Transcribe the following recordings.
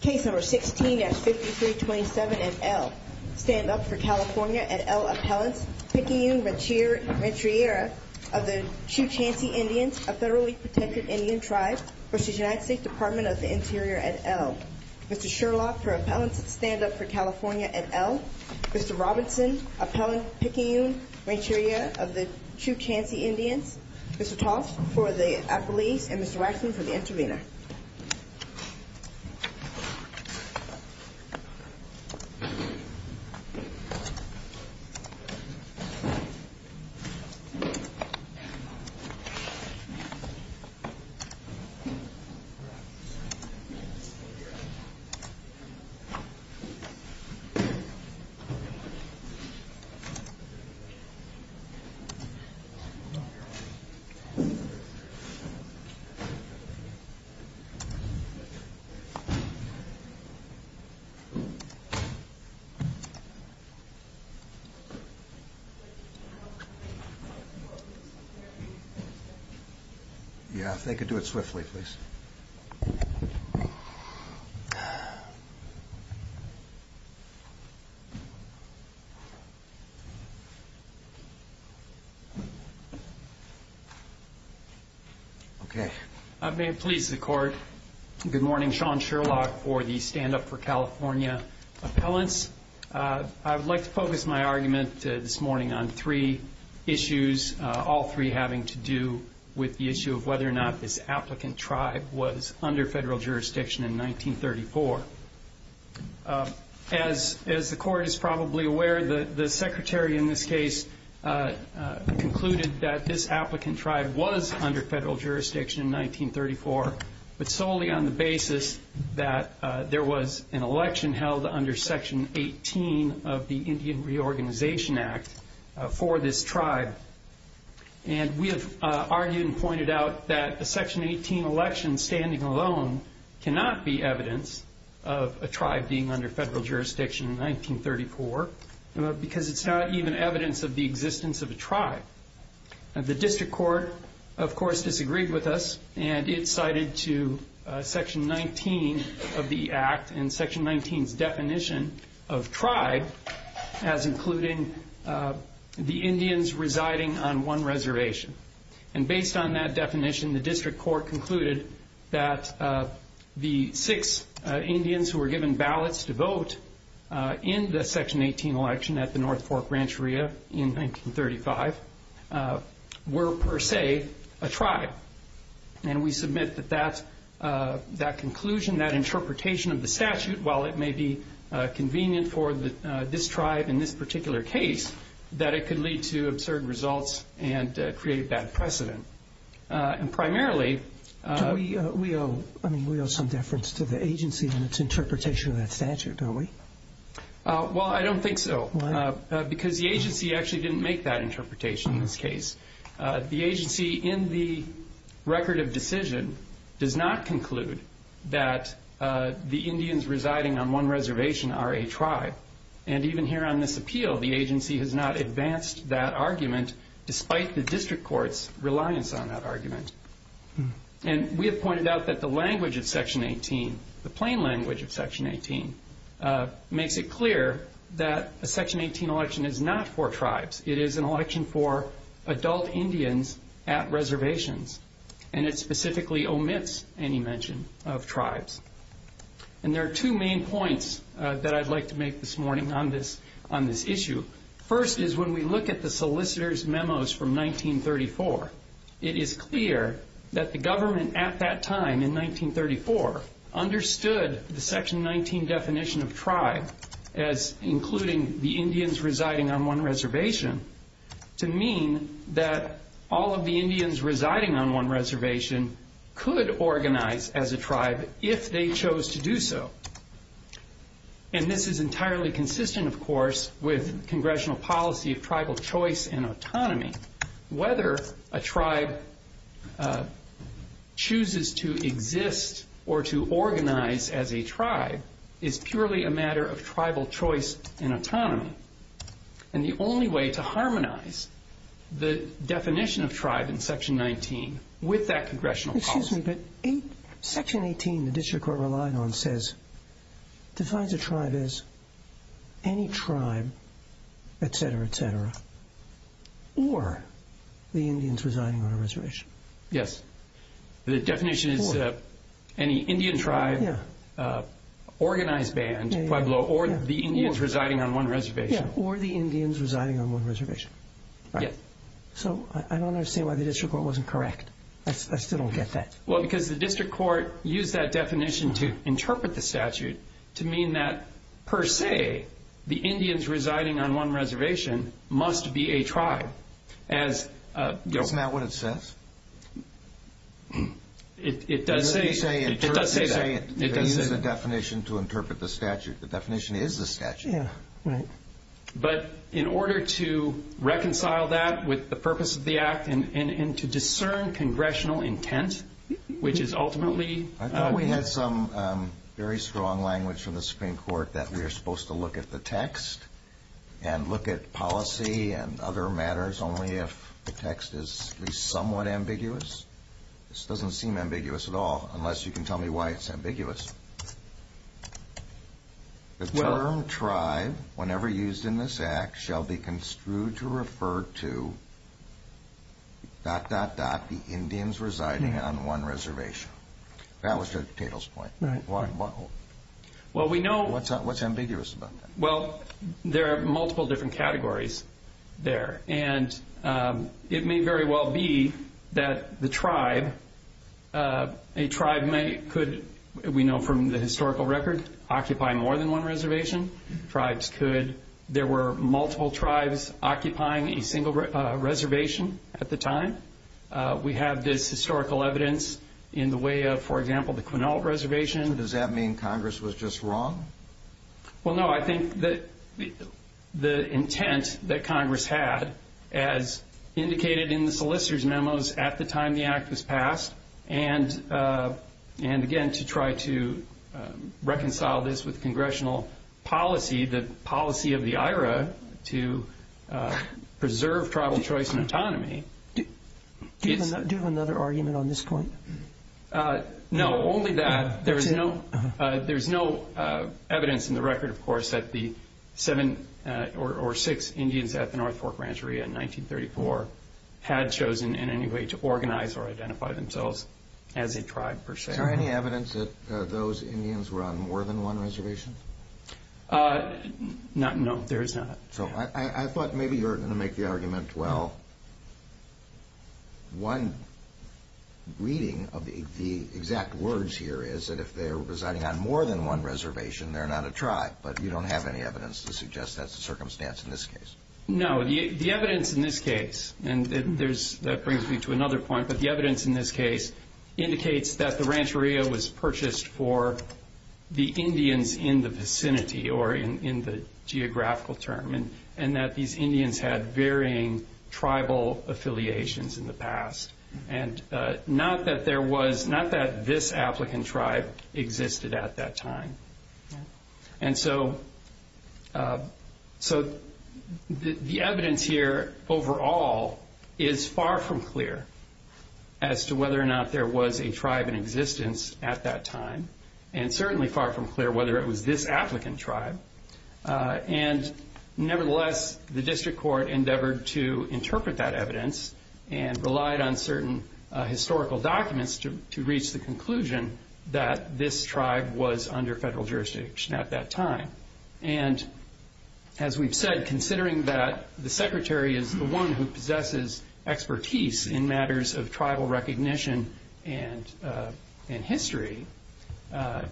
Case No. 16 at 5327 and L. Stand Up For California! at L. Appellants, Pekingun Rancheria of the Chuchansi Indians, a federally protected Indian tribe, versus United States Department of the Interior at L. Mr. Sherlock for Appellants, Stand Up For California! at L. Mr. Robinson, Appellant Pekingun Rancheria of the Chuchansi Indians. Mr. Toth for the Appellees and Mr. Waxman for the Intervenor. Mr. Waxman for the Intervenor. Thank you. Yeah, if they could do it swiftly, please. Okay. As the Court is probably aware, the Secretary in this case concluded that this applicant tribe was under federal jurisdiction in 1934, but solely on the basis that there was an election held under Section 18 of the Indian Reorganization Act for this tribe. And we have argued and pointed out that the Section 18 election standing alone cannot be evidence of a tribe being under federal jurisdiction in 1934, because it's not even evidence of the existence of a tribe. The District Court, of course, disagreed with us, and it cited Section 19 of the Act and Section 19's definition of tribe as including the Indians residing on one reservation. And based on that definition, the District Court concluded that the six Indians who were given ballots to vote in the Section 18 election at the North Fork Rancheria in 1935 were, per se, a tribe. And we submit that that conclusion, that interpretation of the statute, while it may be convenient for this tribe in this particular case, that it could lead to absurd results and create a bad precedent. And primarily we owe some deference to the agency in its interpretation of that statute, don't we? Well, I don't think so. Why not? Because the agency actually didn't make that interpretation in this case. The agency, in the record of decision, does not conclude that the Indians residing on one reservation are a tribe. And even here on this appeal, the agency has not advanced that argument, despite the District Court's reliance on that argument. And we have pointed out that the language of Section 18, the plain language of Section 18, makes it clear that a Section 18 election is not for tribes. It is an election for adult Indians at reservations, and it specifically omits any mention of tribes. And there are two main points that I'd like to make this morning on this issue. First is when we look at the solicitor's memos from 1934, it is clear that the government at that time, in 1934, understood the Section 19 definition of tribe as including the Indians residing on one reservation, to mean that all of the Indians residing on one reservation could organize as a tribe if they chose to do so. And this is entirely consistent, of course, with Congressional policy of tribal choice and autonomy. Whether a tribe chooses to exist or to organize as a tribe is purely a matter of tribal choice and autonomy. And the only way to harmonize the definition of tribe in Section 19 with that Congressional policy... defines a tribe as any tribe, etc., etc., or the Indians residing on a reservation. Yes. The definition is any Indian tribe, organized band, Pueblo, or the Indians residing on one reservation. Or the Indians residing on one reservation. So I don't understand why the district court wasn't correct. I still don't get that. Well, because the district court used that definition to interpret the statute to mean that, per se, the Indians residing on one reservation must be a tribe. Isn't that what it says? It does say that. They use the definition to interpret the statute. The definition is the statute. But in order to reconcile that with the purpose of the Act and to discern Congressional intent, which is ultimately... I thought we had some very strong language from the Supreme Court that we are supposed to look at the text and look at policy and other matters only if the text is at least somewhat ambiguous. This doesn't seem ambiguous at all, unless you can tell me why it's ambiguous. The term tribe, whenever used in this Act, shall be construed to refer to...the Indians residing on one reservation. That was to Tatel's point. What's ambiguous about that? Well, there are multiple different categories there. And it may very well be that the tribe...a tribe could, we know from the historical record, occupy more than one reservation. Tribes could...there were multiple tribes occupying a single reservation at the time. We have this historical evidence in the way of, for example, the Quinault Reservation. Does that mean Congress was just wrong? Well, no, I think that the intent that Congress had, as indicated in the solicitor's memos at the time the Act was passed, and again to try to reconcile this with Congressional policy, the policy of the IRA to preserve tribal choice and autonomy... Do you have another argument on this point? No, only that there's no evidence in the record, of course, that the seven or six Indians at the North Fork Rancheria in 1934 had chosen in any way to organize or identify themselves as a tribe, per se. Is there any evidence that those Indians were on more than one reservation? No, there is not. I thought maybe you were going to make the argument, well, one reading of the exact words here is that if they're residing on more than one reservation, they're not a tribe, but you don't have any evidence to suggest that's the circumstance in this case. No, the evidence in this case, and that brings me to another point, but the evidence in this case indicates that the rancheria was purchased for the Indians in the vicinity, or in the geographical term, and that these Indians had varying tribal affiliations in the past, and not that this applicant tribe existed at that time. And so the evidence here overall is far from clear as to whether or not there was a tribe in existence at that time, and certainly far from clear whether it was this applicant tribe. And nevertheless, the district court endeavored to interpret that evidence and relied on certain historical documents to reach the conclusion that this tribe was under federal jurisdiction at that time. And as we've said, considering that the secretary is the one who possesses expertise in matters of tribal recognition and history,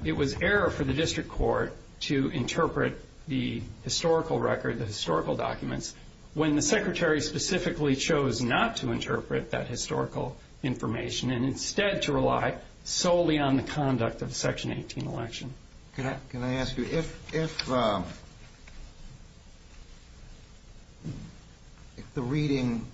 it was error for the district court to interpret the historical record, the historical documents, when the secretary specifically chose not to interpret that historical information and instead to rely solely on the conduct of the Section 18 election. Can I ask you, if the reading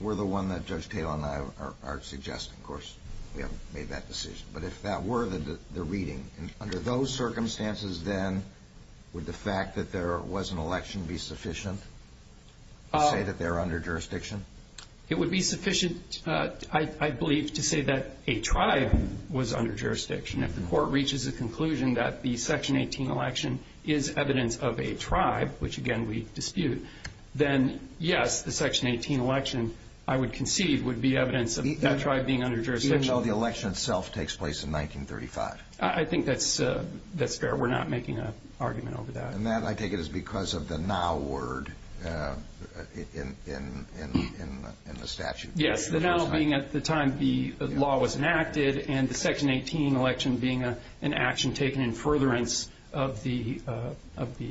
were the one that Judge Taylor and I are suggesting, of course we haven't made that decision, but if that were the reading, under those circumstances, then, would the fact that there was an election be sufficient to say that they're under jurisdiction? It would be sufficient, I believe, to say that a tribe was under jurisdiction. If the court reaches a conclusion that the Section 18 election is evidence of a tribe, which, again, we dispute, then, yes, the Section 18 election, I would concede, would be evidence of that tribe being under jurisdiction. Even though the election itself takes place in 1935? I think that's fair. We're not making an argument over that. And that, I take it, is because of the now word in the statute. Yes, the now being at the time the law was enacted, and the Section 18 election being an action taken in furtherance of the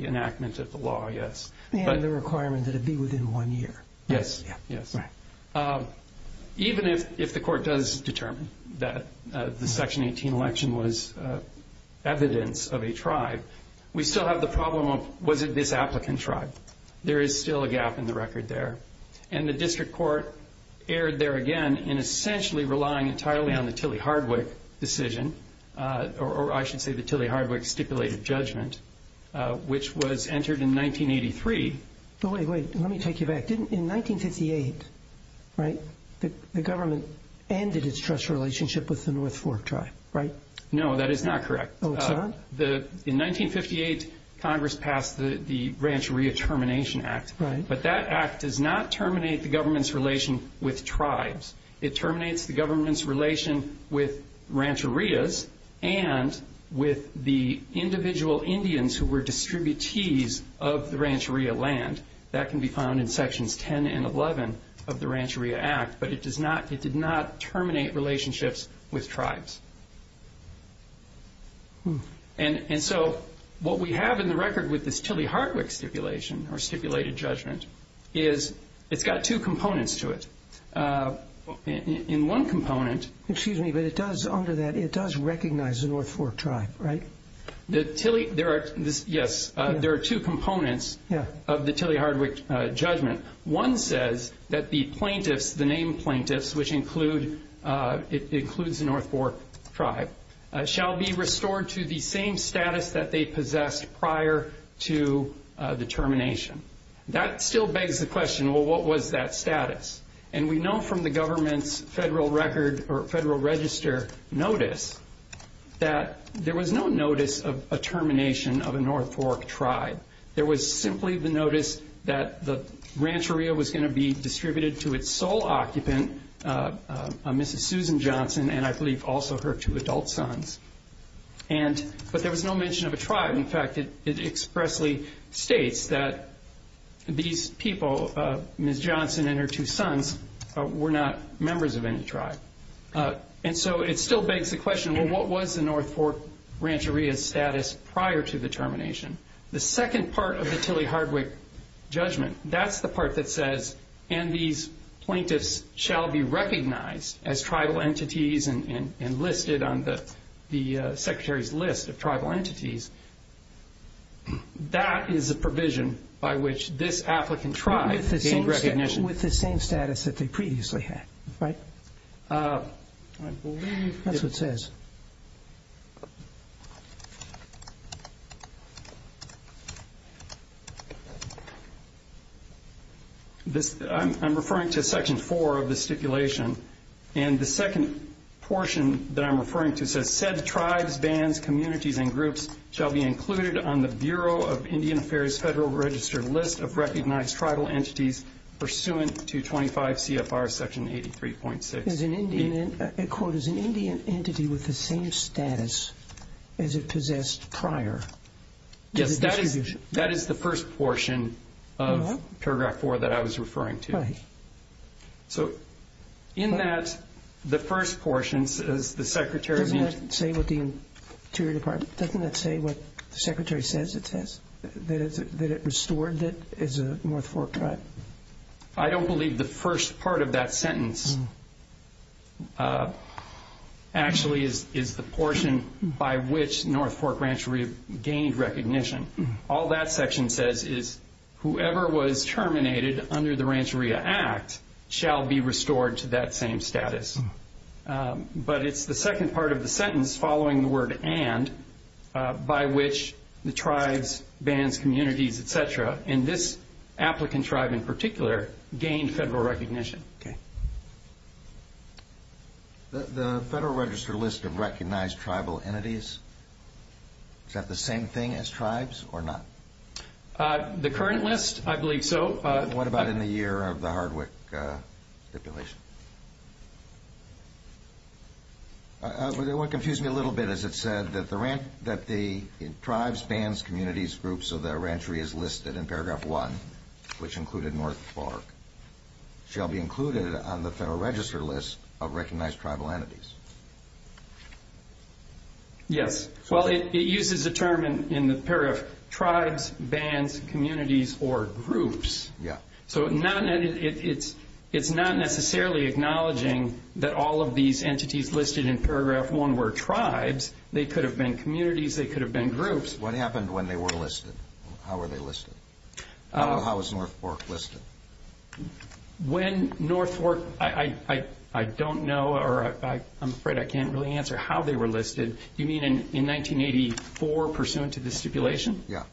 enactment of the law, yes. And the requirement that it be within one year. Yes, yes. Even if the court does determine that the Section 18 election was evidence of a tribe, we still have the problem of, was it this applicant tribe? There is still a gap in the record there. And the district court erred there again in essentially relying entirely on the Tilley-Hardwick decision, or I should say the Tilley-Hardwick stipulated judgment, which was entered in 1983. Wait, wait. Let me take you back. In 1958, right, the government ended its trust relationship with the North Fork tribe, right? No, that is not correct. Oh, it's not? In 1958, Congress passed the Rancheria Termination Act. But that act does not terminate the government's relation with tribes. It terminates the government's relation with rancherias and with the individual Indians who were distributees of the rancheria land. That can be found in Sections 10 and 11 of the Rancheria Act. But it did not terminate relationships with tribes. And so what we have in the record with this Tilley-Hardwick stipulation, or stipulated judgment, is it's got two components to it. In one component. Excuse me, but it does, under that, it does recognize the North Fork tribe, right? Yes. There are two components of the Tilley-Hardwick judgment. One says that the plaintiffs, the named plaintiffs, which includes the North Fork tribe, shall be restored to the same status that they possessed prior to the termination. That still begs the question, well, what was that status? And we know from the government's federal record or federal register notice that there was no notice of a termination of a North Fork tribe. There was simply the notice that the rancheria was going to be distributed to its sole occupant, Mrs. Susan Johnson, and I believe also her two adult sons. But there was no mention of a tribe. In fact, it expressly states that these people, Mrs. Johnson and her two sons, were not members of any tribe. And so it still begs the question, well, what was the North Fork rancheria status prior to the termination? The second part of the Tilley-Hardwick judgment, that's the part that says, and these plaintiffs shall be recognized as tribal entities and listed on the Secretary's list of tribal entities, that is a provision by which this applicant tribe gained recognition. With the same status that they previously had, right? I'm referring to Section 4 of the stipulation. And the second portion that I'm referring to says, said tribes, bands, communities, and groups shall be included on the Bureau of Indian Affairs Federal Register list of recognized tribal entities pursuant to 25 CFR Section 83.6. As an Indian entity with the same status as it possessed prior. Yes, that is the first portion of Paragraph 4 that I was referring to. Right. So in that, the first portion says the Secretary... Doesn't that say what the Interior Department, doesn't that say what the Secretary says it says? That it restored it as a North Fork tribe? I don't believe the first part of that sentence actually is the portion by which North Fork Rancheria gained recognition. All that section says is whoever was terminated under the Rancheria Act shall be restored to that same status. But it's the second part of the sentence following the word and, by which the tribes, bands, communities, et cetera, and this applicant tribe in particular gained federal recognition. Okay. The Federal Register list of recognized tribal entities, is that the same thing as tribes or not? The current list, I believe so. What about in the year of the Hardwick stipulation? It confused me a little bit as it said that the tribes, bands, communities, groups, so that Rancheria is listed in Paragraph 1, which included North Fork, shall be included on the Federal Register list of recognized tribal entities. Yes. Well, it uses a term in the pair of tribes, bands, communities, or groups. Yeah. So it's not necessarily acknowledging that all of these entities listed in Paragraph 1 were tribes. They could have been communities. They could have been groups. What happened when they were listed? How were they listed? How was North Fork listed? When North Fork, I don't know, or I'm afraid I can't really answer how they were listed. You mean in 1984 pursuant to the stipulation? Yeah.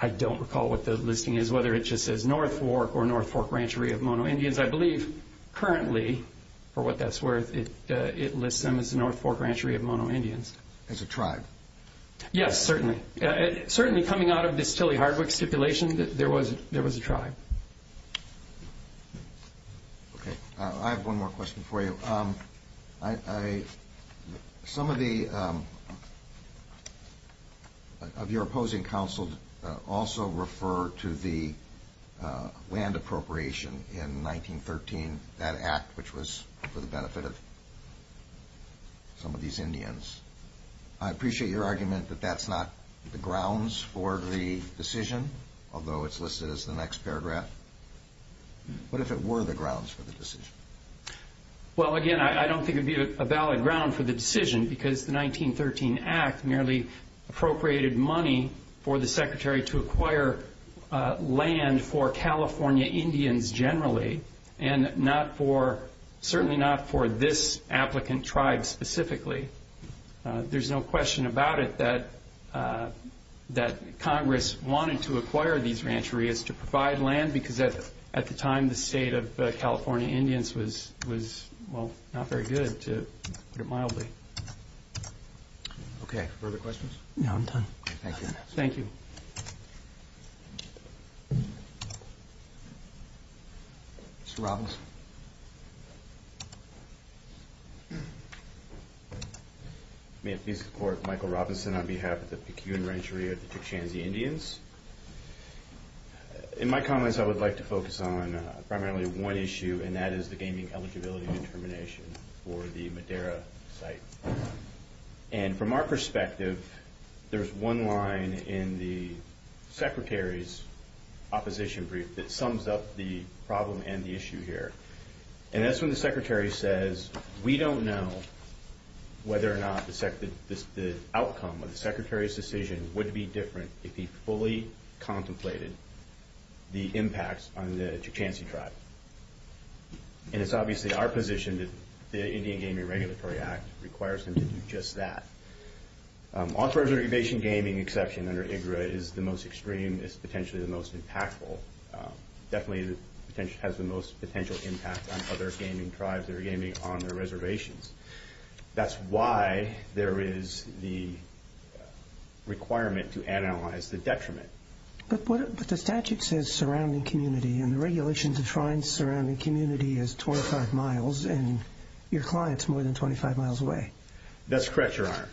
I don't recall what the listing is, whether it just says North Fork or North Fork Rancheria of Mono Indians. I believe currently, for what that's worth, it lists them as North Fork Rancheria of Mono Indians. As a tribe? Yes, certainly. Certainly coming out of this Tilly Hardwick stipulation, there was a tribe. Okay. I have one more question for you. Some of your opposing counsel also refer to the land appropriation in 1913, and that act, which was for the benefit of some of these Indians. I appreciate your argument that that's not the grounds for the decision, although it's listed as the next paragraph. What if it were the grounds for the decision? Well, again, I don't think it would be a valid ground for the decision because the 1913 act merely appropriated money for the secretary to acquire land for California Indians generally, and certainly not for this applicant tribe specifically. There's no question about it that Congress wanted to acquire these rancherias to provide land because at the time, the state of California Indians was, well, not very good, to put it mildly. Okay. Further questions? No, I'm done. Thank you. Thank you. Mr. Robbins. May it please the Court, Michael Robinson on behalf of the Pecun Rancheria of the Tuchansi Indians. In my comments, I would like to focus on primarily one issue, and that is the gaming eligibility determination for the Madera site. And from our perspective, there's one line in the secretary's opposition brief that sums up the problem and the issue here. And that's when the secretary says, we don't know whether or not the outcome of the secretary's decision would be different if he fully contemplated the impacts on the Tuchansi tribe. And it's obviously our position that the Indian Gaming Regulatory Act requires him to do just that. Authorized irrigation gaming exception under IGRA is the most extreme, is potentially the most impactful, definitely has the most potential impact on other gaming tribes that are gaming on their reservations. That's why there is the requirement to analyze the detriment. But the statute says surrounding community, and the regulation defines surrounding community as 25 miles, and your client's more than 25 miles away. That's correct, Your Honor.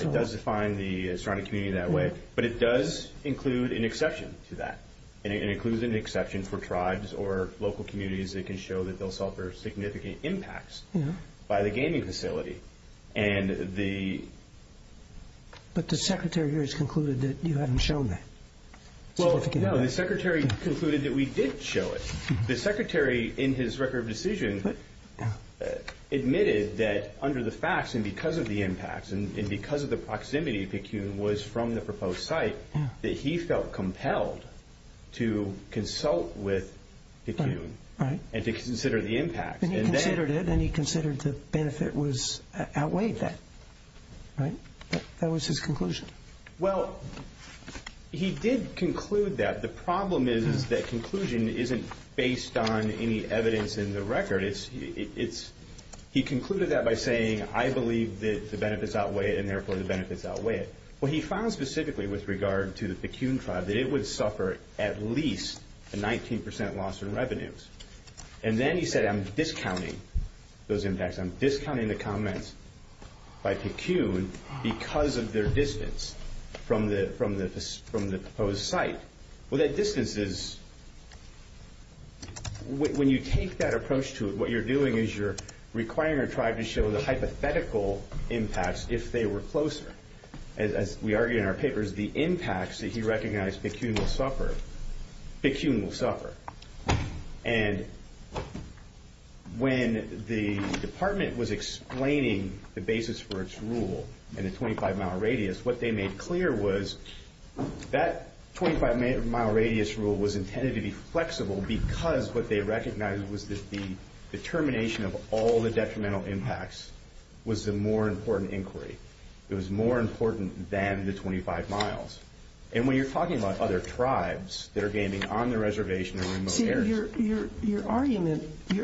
It does define the surrounding community that way, but it does include an exception to that. And it includes an exception for tribes or local communities that can show that they'll suffer significant impacts by the gaming facility. But the secretary here has concluded that you haven't shown that. Well, no, the secretary concluded that we did show it. The secretary, in his record of decision, admitted that under the facts and because of the impacts and because of the proximity to Picune was from the proposed site, that he felt compelled to consult with Picune and to consider the impact. And he considered it, and he considered the benefit outweighed that. That was his conclusion. Well, he did conclude that. The problem is that conclusion isn't based on any evidence in the record. He concluded that by saying, I believe that the benefits outweigh it, and therefore the benefits outweigh it. Well, he found specifically with regard to the Picune tribe that it would suffer at least a 19% loss in revenues. And then he said, I'm discounting those impacts. I'm discounting the comments by Picune because of their distance from the proposed site. Well, that distance is, when you take that approach to it, what you're doing is you're requiring a tribe to show the hypothetical impacts if they were closer. As we argue in our papers, the impacts that he recognized Picune will suffer, Picune will suffer. And when the department was explaining the basis for its rule in the 25-mile radius, what they made clear was that 25-mile radius rule was intended to be flexible because what they recognized was that the determination of all the detrimental impacts was the more important inquiry. It was more important than the 25 miles. And when you're talking about other tribes that are gaining on the reservation and remote areas. You're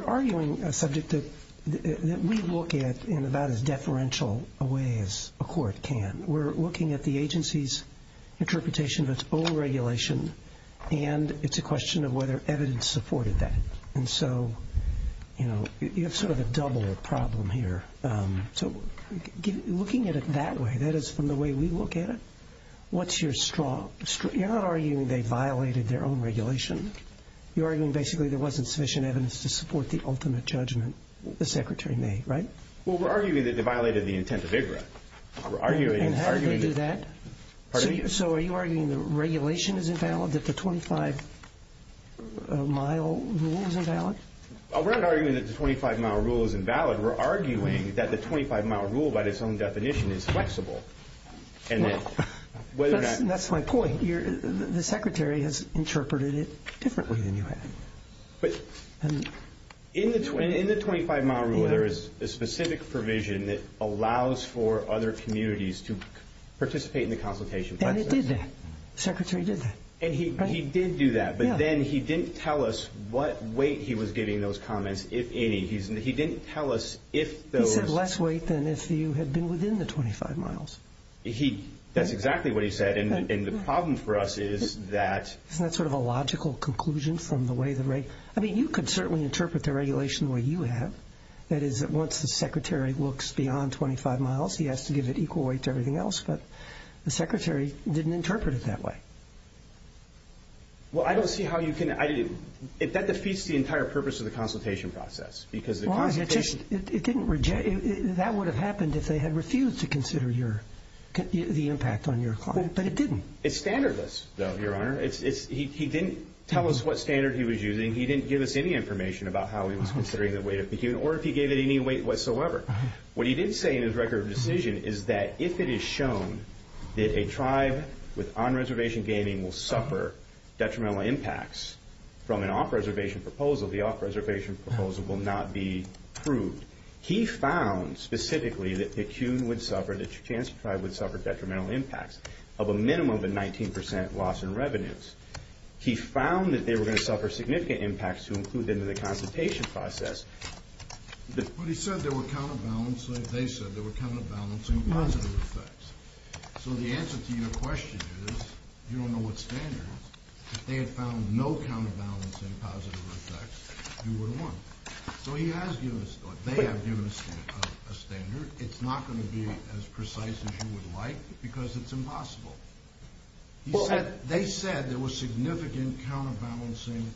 arguing a subject that we look at in about as deferential a way as a court can. We're looking at the agency's interpretation of its own regulation, and it's a question of whether evidence supported that. And so, you know, you have sort of a double problem here. So looking at it that way, that is from the way we look at it, what's your straw? You're not arguing they violated their own regulation. You're arguing basically there wasn't sufficient evidence to support the ultimate judgment the secretary made, right? Well, we're arguing that they violated the intent of IGRA. And how did they do that? So are you arguing the regulation is invalid, that the 25-mile rule is invalid? We're not arguing that the 25-mile rule is invalid. We're arguing that the 25-mile rule by its own definition is flexible. That's my point. The secretary has interpreted it differently than you have. But in the 25-mile rule, there is a specific provision that allows for other communities to participate in the consultation process. And it did that. The secretary did that. And he did do that, but then he didn't tell us what weight he was giving those comments, if any. He didn't tell us if those. Less weight than if you had been within the 25 miles. That's exactly what he said. And the problem for us is that... Isn't that sort of a logical conclusion from the way the rate... I mean, you could certainly interpret the regulation the way you have. That is, once the secretary looks beyond 25 miles, he has to give it equal weight to everything else. But the secretary didn't interpret it that way. Well, I don't see how you can... That defeats the entire purpose of the consultation process because the consultation... That would have happened if they had refused to consider the impact on your client, but it didn't. It's standardless, though, Your Honor. He didn't tell us what standard he was using. He didn't give us any information about how he was considering the weight of the unit or if he gave it any weight whatsoever. What he did say in his record of decision is that if it is shown that a tribe with on-reservation gaming will suffer detrimental impacts from an off-reservation proposal, the off-reservation proposal will not be approved. He found specifically that the Kuhn would suffer, that your chance of tribe would suffer detrimental impacts of a minimum of a 19% loss in revenues. He found that they were going to suffer significant impacts to include them in the consultation process. But he said there were counterbalancing. They said there were counterbalancing positive effects. So the answer to your question is, you don't know what standard. If they had found no counterbalancing positive effects, you would have won. So he has given us thought. They have given us a standard. It's not going to be as precise as you would like because it's impossible. They said there were significant counterbalancing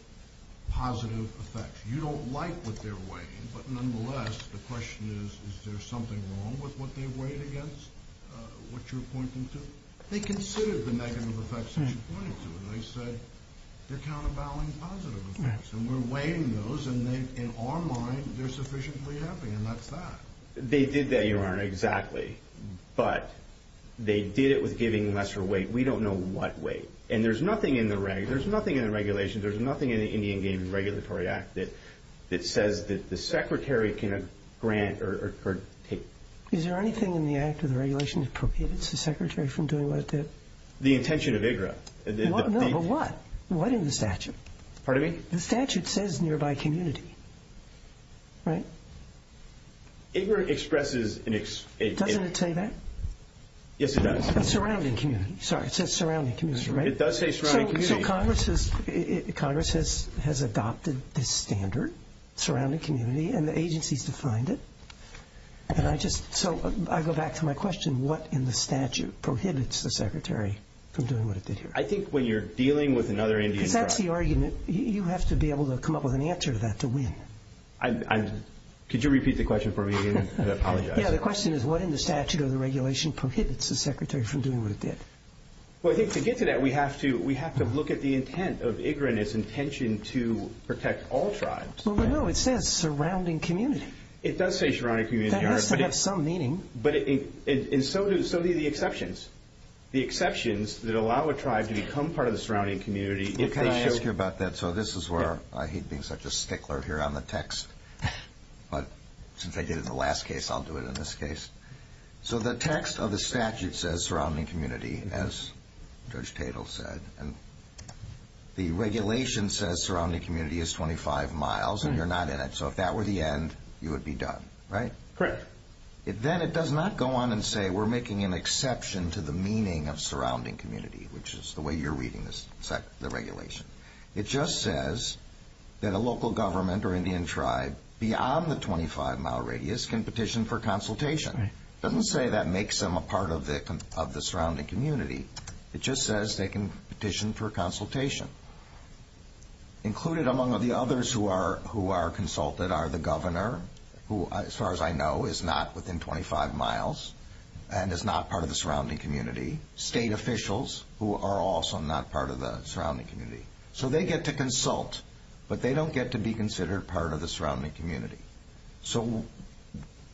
positive effects. You don't like what they're weighing, but nonetheless, the question is, is there something wrong with what they weighed against what you're pointing to? They considered the negative effects that you pointed to, and they said they're counterbalancing positive effects. And we're weighing those, and in our mind, they're sufficiently happy, and that's that. They did that, Your Honor, exactly. But they did it with giving lesser weight. We don't know what weight. And there's nothing in the regulations, there's nothing in the Indian Game and Regulatory Act that says that the Secretary can grant or take. Is there anything in the act or the regulation appropriated to the Secretary from doing what it did? The intention of IGRA. No, but what? What in the statute? Pardon me? The statute says nearby community, right? IGRA expresses an... Doesn't it say that? Yes, it does. Surrounding community. Sorry, it says surrounding community, right? It does say surrounding community. So Congress has adopted this standard, surrounding community, and the agency's defined it. And I just... So I go back to my question, what in the statute prohibits the Secretary from doing what it did here? I think when you're dealing with another Indian tribe... Because that's the argument. You have to be able to come up with an answer to that to win. Could you repeat the question for me? I apologize. Yeah, the question is what in the statute or the regulation prohibits the Secretary from doing what it did? Well, I think to get to that, we have to look at the intent of IGRA and its intention to protect all tribes. Well, no, it says surrounding community. It does say surrounding community. That has to have some meaning. But so do the exceptions. The exceptions that allow a tribe to become part of the surrounding community if they show... Can I ask you about that? So this is where I hate being such a stickler here on the text. But since I did it in the last case, I'll do it in this case. So the text of the statute says surrounding community, as Judge Tatel said. And the regulation says surrounding community is 25 miles, and you're not in it. So if that were the end, you would be done, right? Correct. Then it does not go on and say we're making an exception to the meaning of surrounding community, which is the way you're reading the regulation. It just says that a local government or Indian tribe beyond the 25-mile radius can petition for consultation. It doesn't say that makes them a part of the surrounding community. It just says they can petition for consultation. Included among the others who are consulted are the governor, who as far as I know is not within 25 miles and is not part of the surrounding community, state officials who are also not part of the surrounding community. So they get to consult, but they don't get to be considered part of the surrounding community. So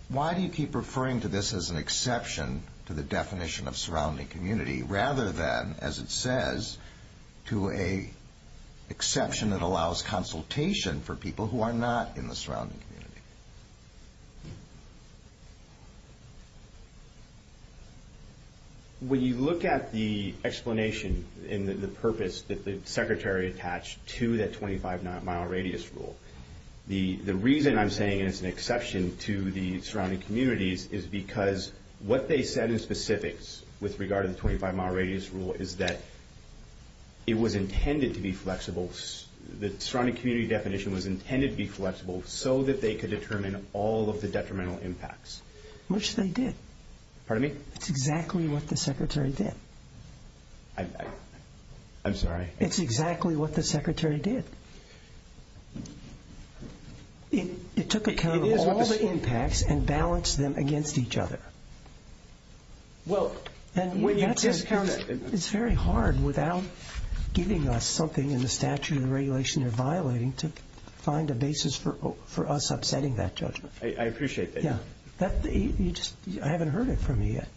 why do you keep referring to this as an exception to the definition of surrounding community rather than, as it says, to an exception that allows consultation for people who are not in the surrounding community? When you look at the explanation and the purpose that the secretary attached to that 25-mile radius rule, the reason I'm saying it's an exception to the surrounding communities is because what they said in specifics with regard to the 25-mile radius rule is that it was intended to be flexible. The surrounding community definition was intended to be flexible so that they could determine all of the detrimental impacts. Which they did. Pardon me? It's exactly what the secretary did. I'm sorry? It's exactly what the secretary did. It took account of all the impacts and balanced them against each other. It's very hard without giving us something in the statute or regulation you're violating to find a basis for us upsetting that judgment. I appreciate that. I haven't heard it from you yet,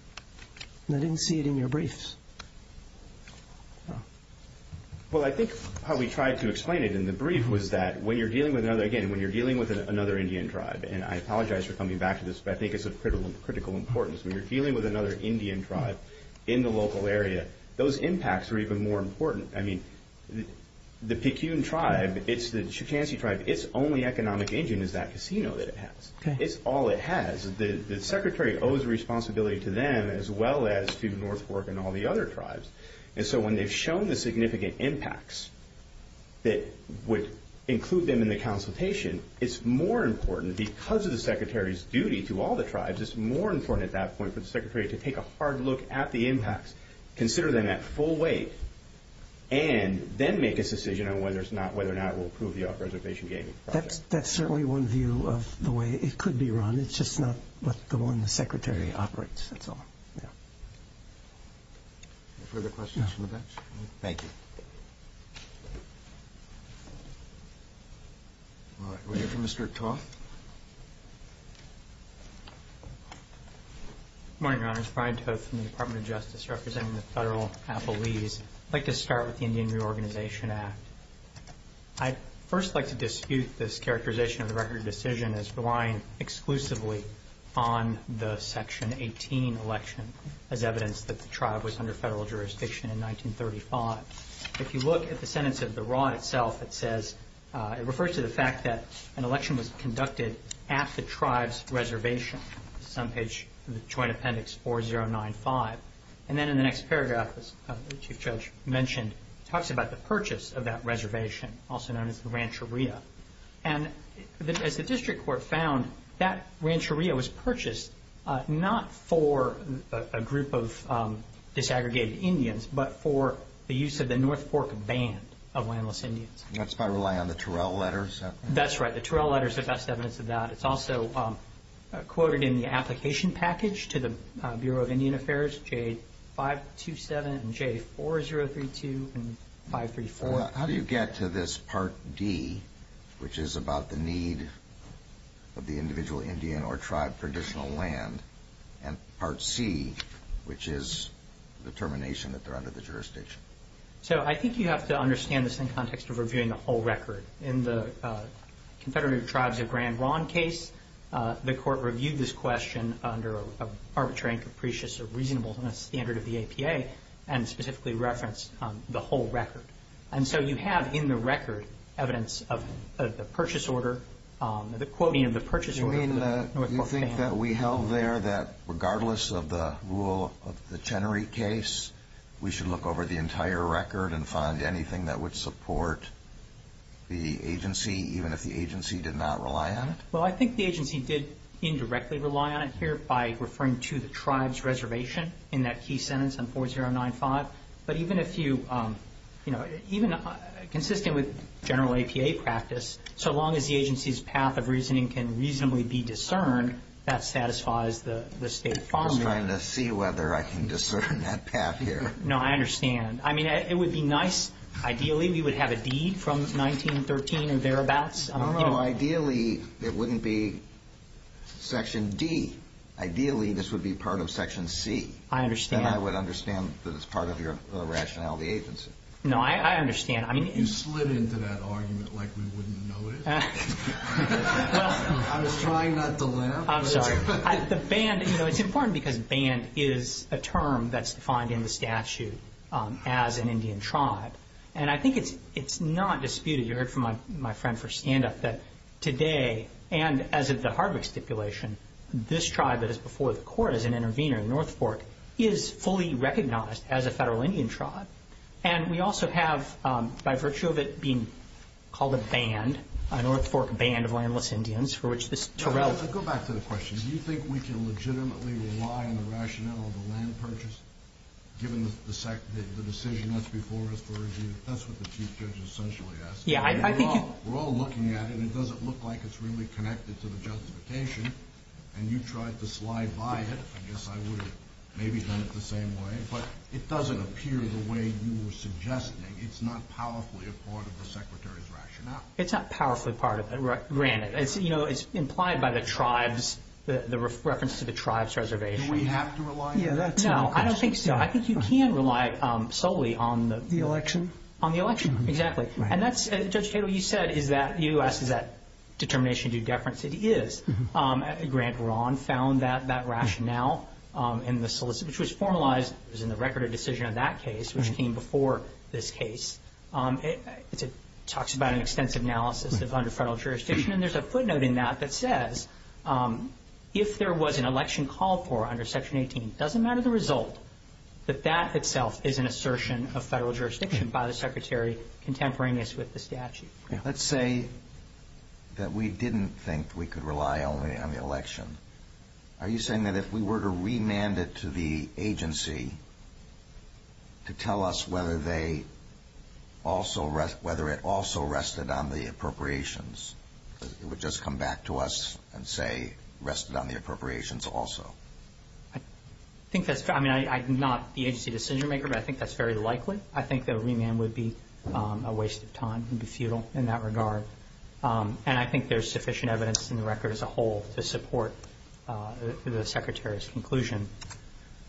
and I didn't see it in your briefs. Well, I think how we tried to explain it in the brief was that, again, when you're dealing with another Indian tribe, and I apologize for coming back to this, but I think it's of critical importance. When you're dealing with another Indian tribe in the local area, those impacts are even more important. I mean, the Pikun tribe, it's the Chukansi tribe. Its only economic engine is that casino that it has. It's all it has. The secretary owes responsibility to them as well as to North Fork and all the other tribes. And so when they've shown the significant impacts that would include them in the consultation, it's more important because of the secretary's duty to all the tribes, it's more important at that point for the secretary to take a hard look at the impacts, consider them at full weight, and then make a decision on whether or not we'll approve the reservation gaming project. That's certainly one view of the way it could be run. It's just not the one the secretary operates, that's all. Yeah. Any further questions from the bench? No. Thank you. All right. We'll hear from Mr. Toth. Good morning, Your Honors. Brian Toth from the Department of Justice representing the federal appellees. I'd like to start with the Indian Reorganization Act. I'd first like to dispute this characterization of the record of decision as relying exclusively on the Section 18 election as evidence that the tribe was under federal jurisdiction in 1935. If you look at the sentence of the rod itself, it says, it refers to the fact that an election was conducted at the tribe's reservation. This is on page, Joint Appendix 4095. And then in the next paragraph, as the Chief Judge mentioned, it talks about the purchase of that reservation, also known as the Rancheria. And as the district court found, that Rancheria was purchased not for a group of disaggregated Indians, but for the use of the North Fork Band of landless Indians. That's by relying on the Turrell letters. That's right. The Turrell letters are best evidence of that. It's also quoted in the application package to the Bureau of Indian Affairs, J527 and J4032 and 534. How do you get to this Part D, which is about the need of the individual Indian or tribe for additional land, and Part C, which is the termination that they're under the jurisdiction? So I think you have to understand this in the context of reviewing the whole record. In the Confederated Tribes of Grand Ronde case, the court reviewed this question under an arbitrary and capricious or reasonable standard of the APA and specifically referenced the whole record. And so you have in the record evidence of the purchase order, the quoting of the purchase order. You mean you think that we held there that regardless of the rule of the Chenery case, we should look over the entire record and find anything that would support the agency, even if the agency did not rely on it? Well, I think the agency did indirectly rely on it here by referring to the tribe's reservation in that key sentence on 4095. But even if you, you know, even consistent with general APA practice, so long as the agency's path of reasoning can reasonably be discerned, that satisfies the state formula. I was trying to see whether I can discern that path here. No, I understand. I mean, it would be nice. Ideally, we would have a deed from 1913 and thereabouts. I don't know. Ideally, it wouldn't be Section D. Ideally, this would be part of Section C. I understand. And I would understand that it's part of your rationality agency. No, I understand. You slid into that argument like we wouldn't notice. I was trying not to laugh. I'm sorry. The band, you know, it's important because band is a term that's defined in the statute as an Indian tribe. And I think it's not disputed. You heard from my friend for stand-up that today, and as of the Hardwick stipulation, this tribe that is before the court as an intervener, the North Fork, is fully recognized as a federal Indian tribe. And we also have, by virtue of it being called a band, a North Fork band of landless Indians, for which this Terrell. Go back to the question. Do you think we can legitimately rely on the rationale of the land purchase, given the decision that's before us for a deed? That's what the Chief Judge essentially asked. We're all looking at it. It doesn't look like it's really connected to the justification. And you tried to slide by it. I guess I would have maybe done it the same way. But it doesn't appear the way you were suggesting. It's not powerfully a part of the Secretary's rationale. It's not powerfully part of it, granted. It's implied by the tribes, the reference to the tribes' reservation. Do we have to rely on that? No, I don't think so. I think you can rely solely on the election. On the election, exactly. And that's, Judge Cato, what you said is that U.S. is that determination due deference. It is. Grant Rahn found that rationale in the solicitation, which was formalized. It was in the record of decision of that case, which came before this case. It talks about an extensive analysis under federal jurisdiction. And there's a footnote in that that says if there was an election called for under Section 18, it doesn't matter the result, that that itself is an assertion of federal jurisdiction by the Secretary contemporaneous with the statute. Let's say that we didn't think we could rely only on the election. Are you saying that if we were to remand it to the agency to tell us whether it also rested on the appropriations, it would just come back to us and say rested on the appropriations also? I think that's true. I mean, I'm not the agency decision-maker, but I think that's very likely. I think that a remand would be a waste of time, would be futile in that regard. And I think there's sufficient evidence in the record as a whole to support the Secretary's conclusion.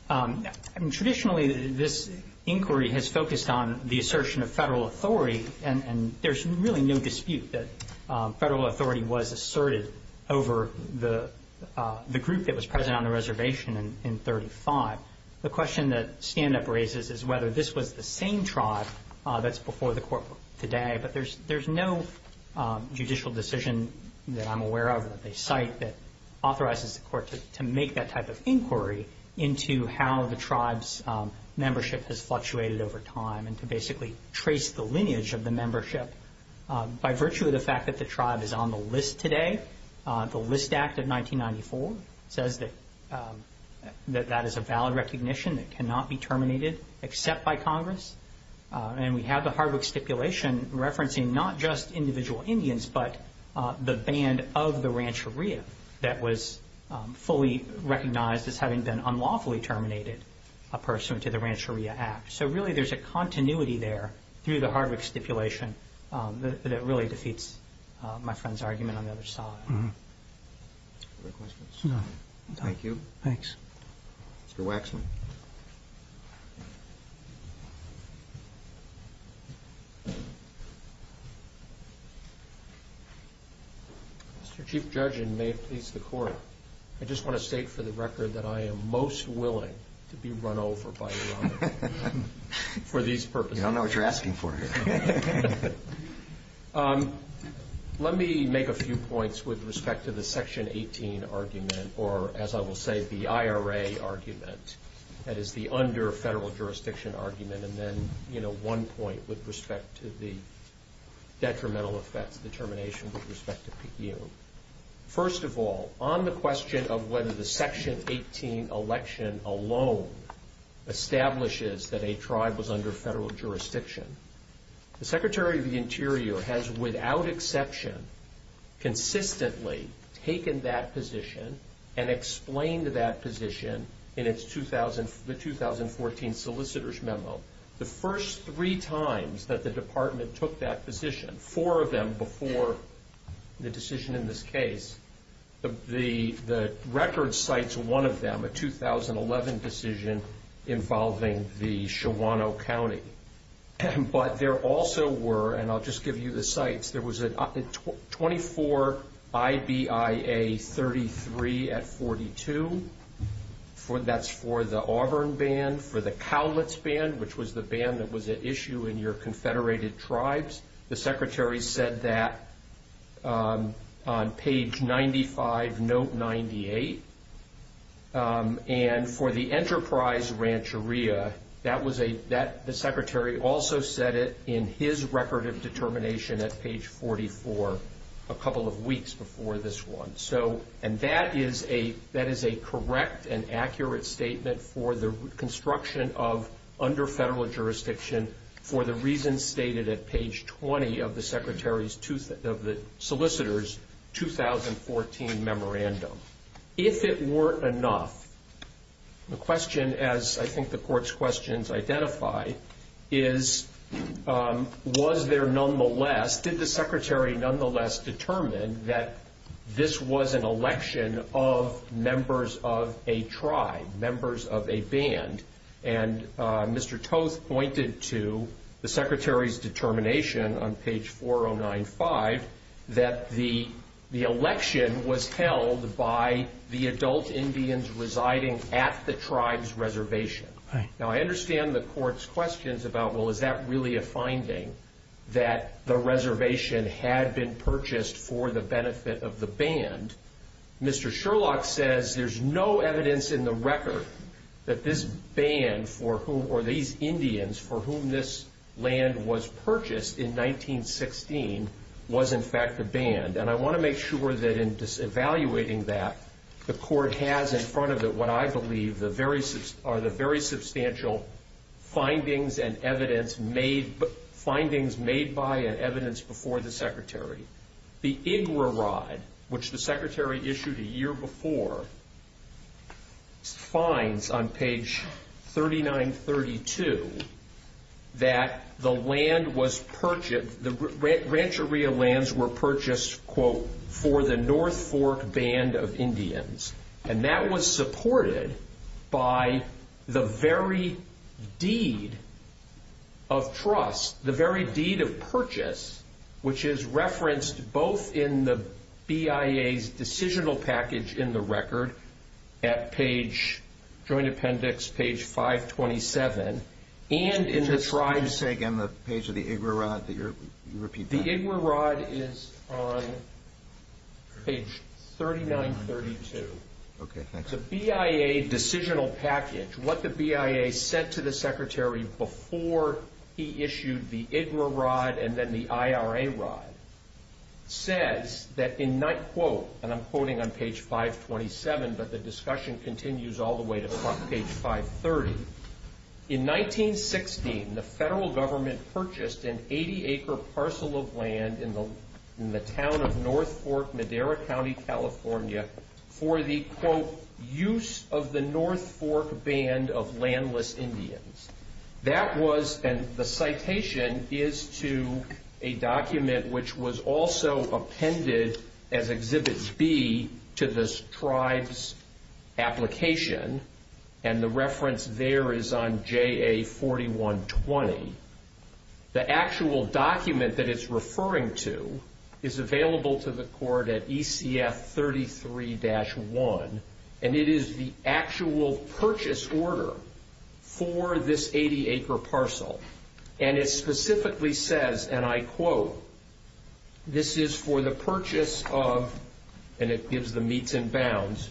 Traditionally, this inquiry has focused on the assertion of federal authority, and there's really no dispute that federal authority was asserted over the group that was present on the reservation in 35. The question that standup raises is whether this was the same tribe that's before the court today. But there's no judicial decision that I'm aware of that they cite that authorizes the court to make that type of inquiry into how the tribe's membership has fluctuated over time and to basically trace the lineage of the membership. By virtue of the fact that the tribe is on the list today, the List Act of 1994 says that that is a valid recognition that cannot be terminated except by Congress. And we have the Hardwick stipulation referencing not just individual Indians, but the band of the Rancheria that was fully recognized as having been unlawfully terminated a person to the Rancheria Act. So really, there's a continuity there through the Hardwick stipulation that really defeats my friend's argument on the other side. Thank you. Thanks. Mr. Waxman. Mr. Chief Judge, and may it please the Court, I just want to state for the record that I am most willing to be run over by your honor for these purposes. I don't know what you're asking for here. Let me make a few points with respect to the Section 18 argument, or as I will say, the IRA argument. That is the under-federal jurisdiction argument. And then, you know, one point with respect to the detrimental effects determination with respect to PU. First of all, on the question of whether the Section 18 election alone establishes that a tribe was under federal jurisdiction, the Secretary of the Interior has, without exception, consistently taken that position and explained that position in the 2014 solicitor's memo. The first three times that the Department took that position, four of them before the decision in this case, the record cites one of them, a 2011 decision involving the Shawano County. But there also were, and I'll just give you the cites, there was a 24 IBIA 33 at 42. That's for the Auburn Band, for the Cowlitz Band, which was the band that was at issue in your Confederated Tribes. The Secretary said that on page 95, note 98. And for the Enterprise Rancheria, the Secretary also said it in his record of determination at page 44 a couple of weeks before this one. And that is a correct and accurate statement for the construction of under federal jurisdiction for the reasons stated at page 20 of the solicitor's 2014 memorandum. If it weren't enough, the question, as I think the Court's questions identify, is was there nonetheless, did the Secretary nonetheless determine that this was an election of members of a tribe, members of a band? And Mr. Toth pointed to the Secretary's determination on page 4095 that the election was held by the adult Indians residing at the tribe's reservation. Now, I understand the Court's questions about, well, is that really a finding, that the reservation had been purchased for the benefit of the band? Mr. Sherlock says there's no evidence in the record that this band for whom, or these Indians for whom this land was purchased in 1916 was in fact a band. And I want to make sure that in evaluating that, the Court has in front of it what I believe are the very substantial findings and evidence made by and evidence before the Secretary. The IGRA rod, which the Secretary issued a year before, finds on page 3932 that the rancheria lands were purchased, quote, for the North Fork band of Indians. And that was supported by the very deed of trust, the very deed of purchase, which is referenced both in the BIA's decisional package in the record at page, Joint Appendix page 527, and in the tribe's... Could you say again the page of the IGRA rod that you're repeating? The IGRA rod is on page 3932. The BIA decisional package, what the BIA sent to the Secretary before he issued the IGRA rod and then the IRA rod, says that in, quote, and I'm quoting on page 527, but the discussion continues all the way to page 530, in 1916, the federal government purchased an 80-acre parcel of land in the town of North Fork, Madera County, California, for the, quote, use of the North Fork band of landless Indians. That was, and the citation is to a document which was also appended as Exhibit B to the tribe's application, and the reference there is on JA 4120. The actual document that it's referring to is available to the court at ECF 33-1, and it is the actual purchase order for this 80-acre parcel. And it specifically says, and I quote, this is for the purchase of, and it gives the meets and bounds,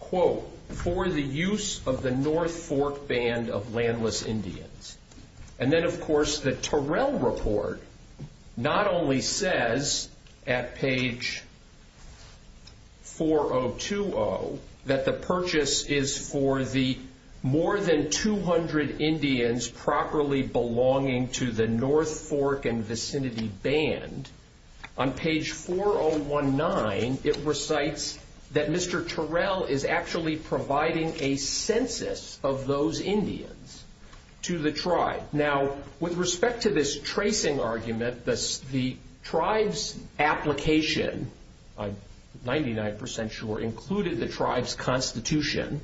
quote, for the use of the North Fork band of landless Indians. And then, of course, the Terrell report not only says at page 4020 that the purchase is for the more than 200 Indians properly belonging to the North Fork and vicinity band. On page 4019, it recites that Mr. Terrell is actually providing a census of those Indians to the tribe. Now, with respect to this tracing argument, the tribe's application, I'm 99% sure, included the tribe's constitution.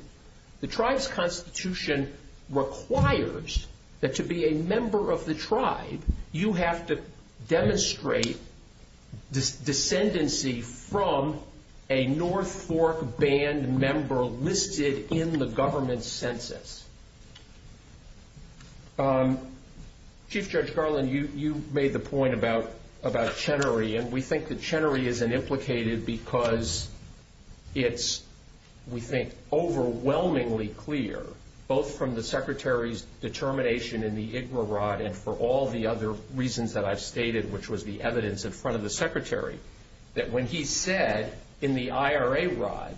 The tribe's constitution requires that to be a member of the tribe, you have to demonstrate descendency from a North Fork band member listed in the government census. Chief Judge Garland, you made the point about Chenery, and we think that Chenery is implicated because it's, we think, overwhelmingly clear, both from the Secretary's determination in the IGRA rod and for all the other reasons that I've stated, which was the evidence in front of the Secretary, that when he said in the IRA rod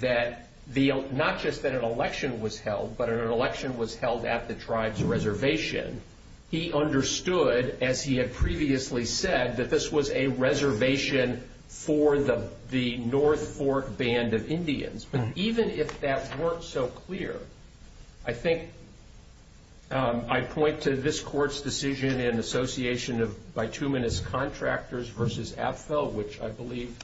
that not just that an election was held, but an election was held at the tribe's reservation, he understood, as he had previously said, that this was a reservation for the North Fork band of Indians. But even if that weren't so clear, I think I point to this court's decision in association of bituminous contractors versus AFFL, which I believe,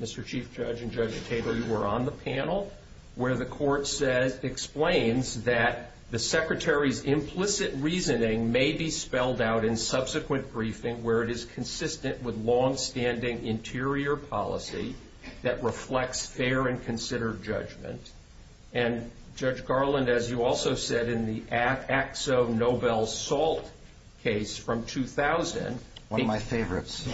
Mr. Chief Judge and Judge Tabor, you were on the panel, where the court explains that the Secretary's implicit reasoning may be spelled out in subsequent briefing where it is consistent with longstanding interior policy that reflects fair and considered judgment. And Judge Garland, as you also said in the Axo-Nobel SALT case from 2000— One of my favorites.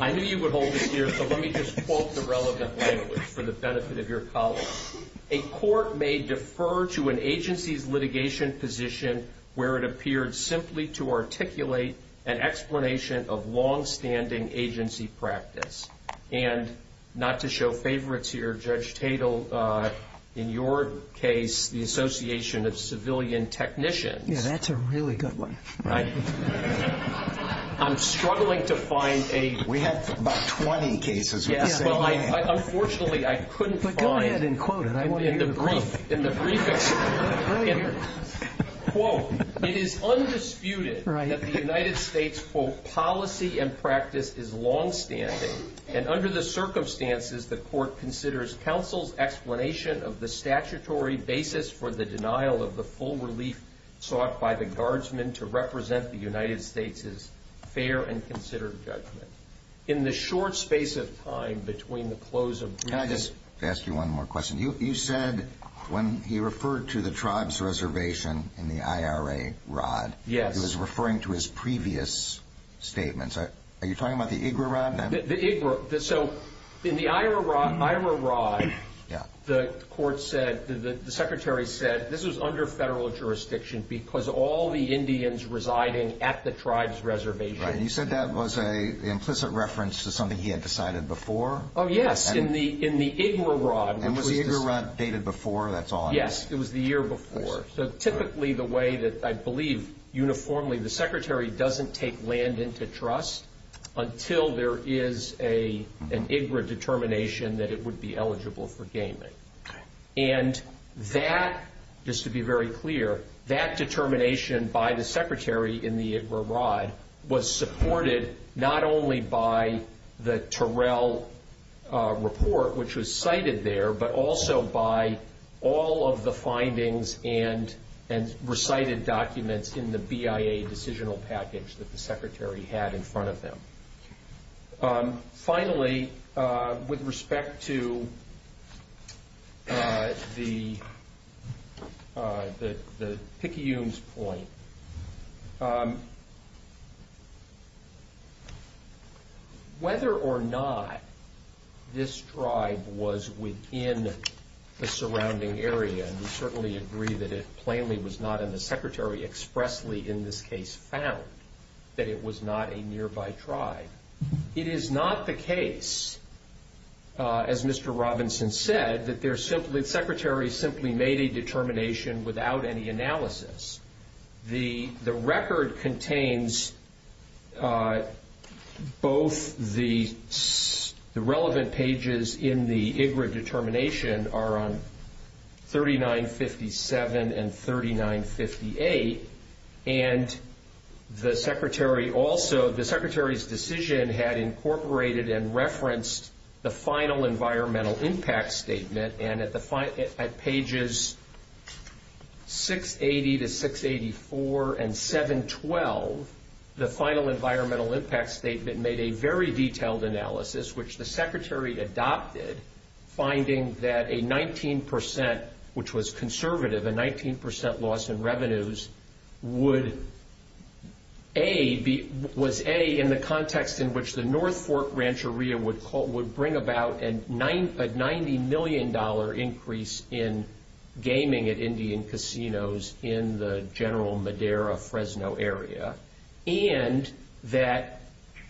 I knew you would hold it here, so let me just quote the relevant language for the benefit of your colleagues. A court may defer to an agency's litigation position where it appeared simply to articulate an explanation of longstanding agency practice. And not to show favorites here, Judge Tatel, in your case, the association of civilian technicians— Yeah, that's a really good one. I'm struggling to find a— We have about 20 cases where you say, yeah. Unfortunately, I couldn't find— But go ahead and quote it. I want to hear the quote. In the brief— Quote, it is undisputed that the United States, quote, policy and practice is longstanding. And under the circumstances, the court considers counsel's explanation of the statutory basis for the denial of the full relief sought by the guardsmen to represent the United States' fair and considered judgment. In the short space of time between the close of briefings— Can I just ask you one more question? You said when he referred to the tribes' reservation in the IRA rod, he was referring to his previous statements. Are you talking about the IGRA rod? So in the IRA rod, the court said, the secretary said, this was under federal jurisdiction because all the Indians residing at the tribes' reservation— You said that was an implicit reference to something he had decided before? Oh, yes, in the IGRA rod. And was the IGRA rod dated before? Yes, it was the year before. So typically, the way that I believe uniformly, the secretary doesn't take land into trust until there is an IGRA determination that it would be eligible for gaming. And that, just to be very clear, that determination by the secretary in the IGRA rod was supported not only by the Terrell report, which was cited there, but also by all of the findings and recited documents in the BIA decisional package that the secretary had in front of him. Finally, with respect to the Picayune's point, whether or not this tribe was within the surrounding area, and we certainly agree that it plainly was not, and the secretary expressly in this case found that it was not a nearby tribe. It is not the case, as Mr. Robinson said, that the secretary simply made a determination without any analysis. The record contains both the relevant pages in the IGRA determination are on 3957 and 3958. And the secretary also, the secretary's decision had incorporated and referenced the final environmental impact statement. And at pages 680 to 684 and 712, the final environmental impact statement made a very detailed analysis, which the secretary adopted, finding that a 19%, which was conservative, a 19% loss in revenues, would A, was A, in the context in which the North Fork Rancheria would bring about a $90 million increase in gaming at Indian casinos in the general Madera-Fresno area, and that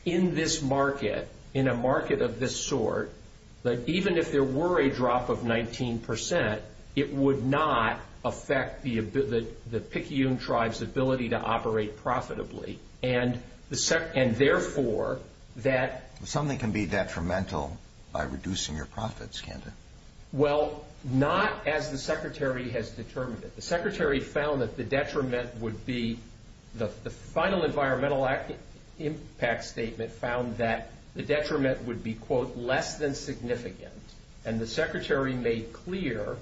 in this market, in a market of this sort, that even if there were a drop of 19%, it would not affect the Picayune tribe's ability to operate profitably. And therefore, that... Something can be detrimental by reducing your profits, Canda. Well, not as the secretary has determined it. The secretary found that the detriment would be the final environmental impact statement found that the detriment would be, quote, less than significant. And the secretary made clear,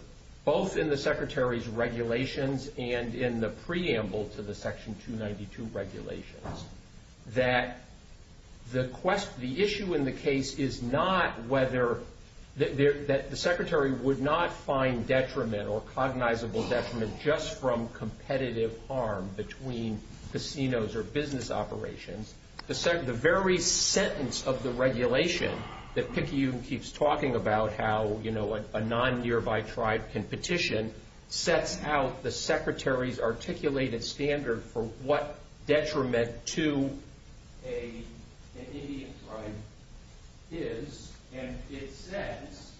both in the secretary's regulations and in the preamble to the Section 292 regulations, that the issue in the case is not whether... that the secretary would not find detriment or cognizable detriment just from competitive harm between casinos or business operations. The very sentence of the regulation that Picayune keeps talking about, how a non-nearby tribe can petition, sets out the secretary's articulated standard for what detriment to an Indian tribe is. And it says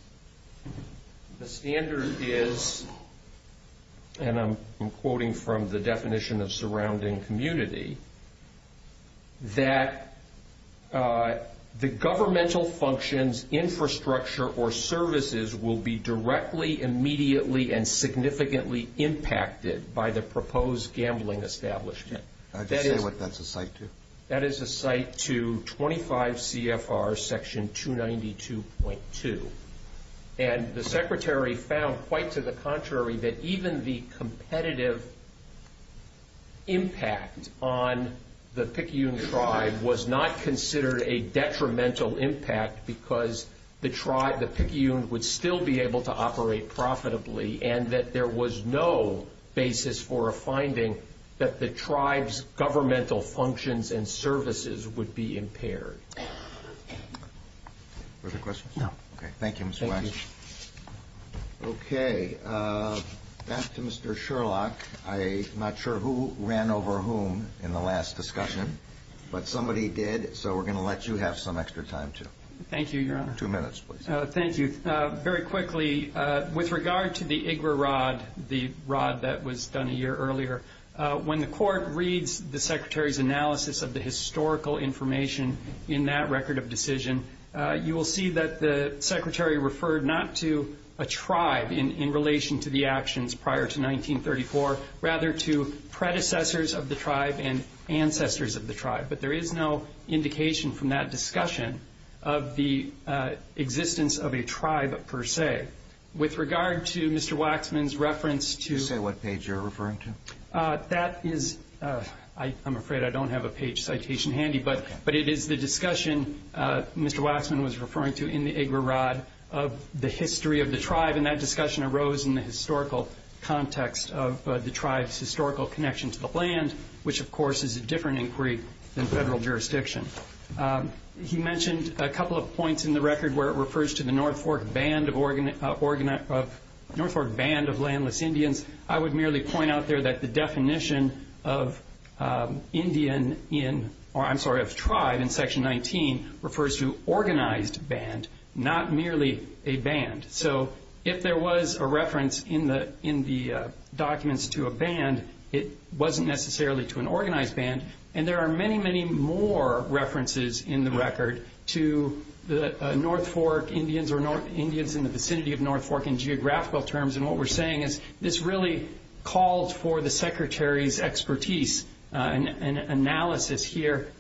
the standard is, and I'm quoting from the definition of surrounding community, that the governmental functions, infrastructure, or services will be directly, immediately, and significantly impacted by the proposed gambling establishment. I'll just say what that's a cite to. That is a cite to 25 CFR Section 292.2. And the secretary found, quite to the contrary, that even the competitive impact on the Picayune tribe was not considered a detrimental impact because the Picayune would still be able to operate profitably and that there was no basis for a finding that the tribe's governmental functions and services would be impaired. Was there a question? No. Okay. Thank you, Mr. Weiss. Okay. Back to Mr. Sherlock. I'm not sure who ran over whom in the last discussion, but somebody did, so we're going to let you have some extra time, too. Thank you, Your Honor. Two minutes, please. Thank you. Very quickly, with regard to the IGRA rod, the rod that was done a year earlier, when the court reads the secretary's analysis of the historical information in that record of decision, you will see that the secretary referred not to a tribe in relation to the actions prior to 1934, rather to predecessors of the tribe and ancestors of the tribe. But there is no indication from that discussion of the existence of a tribe, per se. With regard to Mr. Waxman's reference to ---- Did you say what page you're referring to? That is ---- I'm afraid I don't have a page citation handy, but it is the discussion Mr. Waxman was referring to in the IGRA rod of the history of the tribe, and that discussion arose in the historical context of the tribe's historical connection to the land, which, of course, is a different inquiry than federal jurisdiction. He mentioned a couple of points in the record where it refers to the North Fork Band of Landless Indians. I would merely point out there that the definition of tribe in Section 19 refers to organized band, not merely a band. So if there was a reference in the documents to a band, it wasn't necessarily to an organized band. And there are many, many more references in the record to the North Fork Indians or Indians in the vicinity of North Fork in geographical terms. And what we're saying is this really called for the Secretary's expertise and analysis here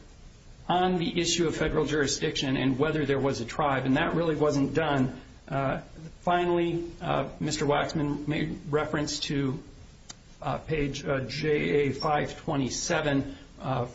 on the issue of federal jurisdiction and whether there was a tribe, and that really wasn't done. Finally, Mr. Waxman made reference to page JA 527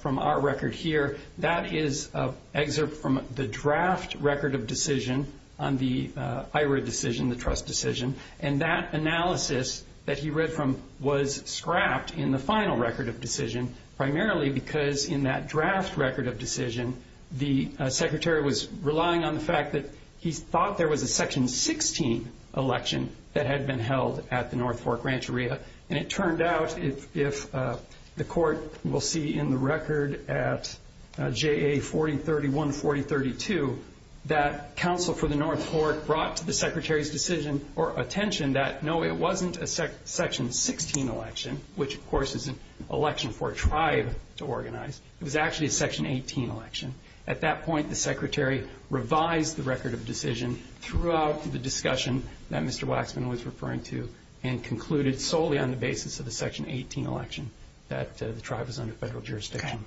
from our record here. That is an excerpt from the draft record of decision on the IGRA decision, the trust decision, and that analysis that he read from was scrapped in the final record of decision, primarily because in that draft record of decision, the Secretary was relying on the fact that he thought there was a Section 16 election that had been held at the North Fork Rancheria. And it turned out, if the Court will see in the record at JA 4031, 4032, that counsel for the North Fork brought to the Secretary's decision or attention that, no, it wasn't a Section 16 election, which, of course, is an election for a tribe to organize. It was actually a Section 18 election. At that point, the Secretary revised the record of decision throughout the discussion that Mr. Waxman was referring to and concluded solely on the basis of the Section 18 election that the tribe was under federal jurisdiction.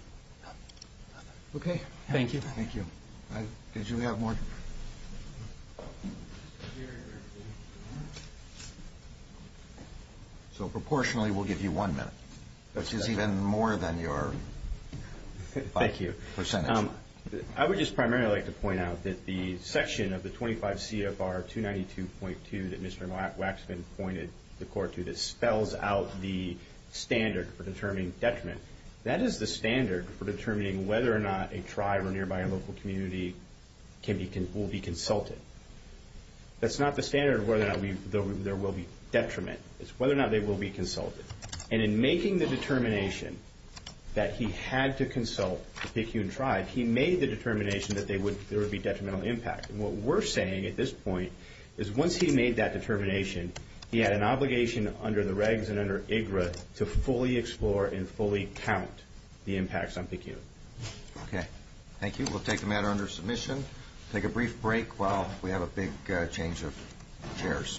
Okay. Thank you. Thank you. Did you have more? So, proportionally, we'll give you one minute, which is even more than your percentage. Thank you. I would just primarily like to point out that the section of the 25 CFR 292.2 that Mr. Waxman pointed the Court to that spells out the standard for determining detriment, that is the standard for determining whether or not a tribe or nearby local community will be consulted. That's not the standard of whether or not there will be detriment. It's whether or not they will be consulted. And in making the determination that he had to consult the Pecun tribe, he made the determination that there would be detrimental impact. And what we're saying at this point is, once he made that determination, he had an obligation under the regs and under IGRA to fully explore and fully count the impacts on Pecun. Okay. Thank you. We'll take the matter under submission, take a brief break while we have a big change of chairs.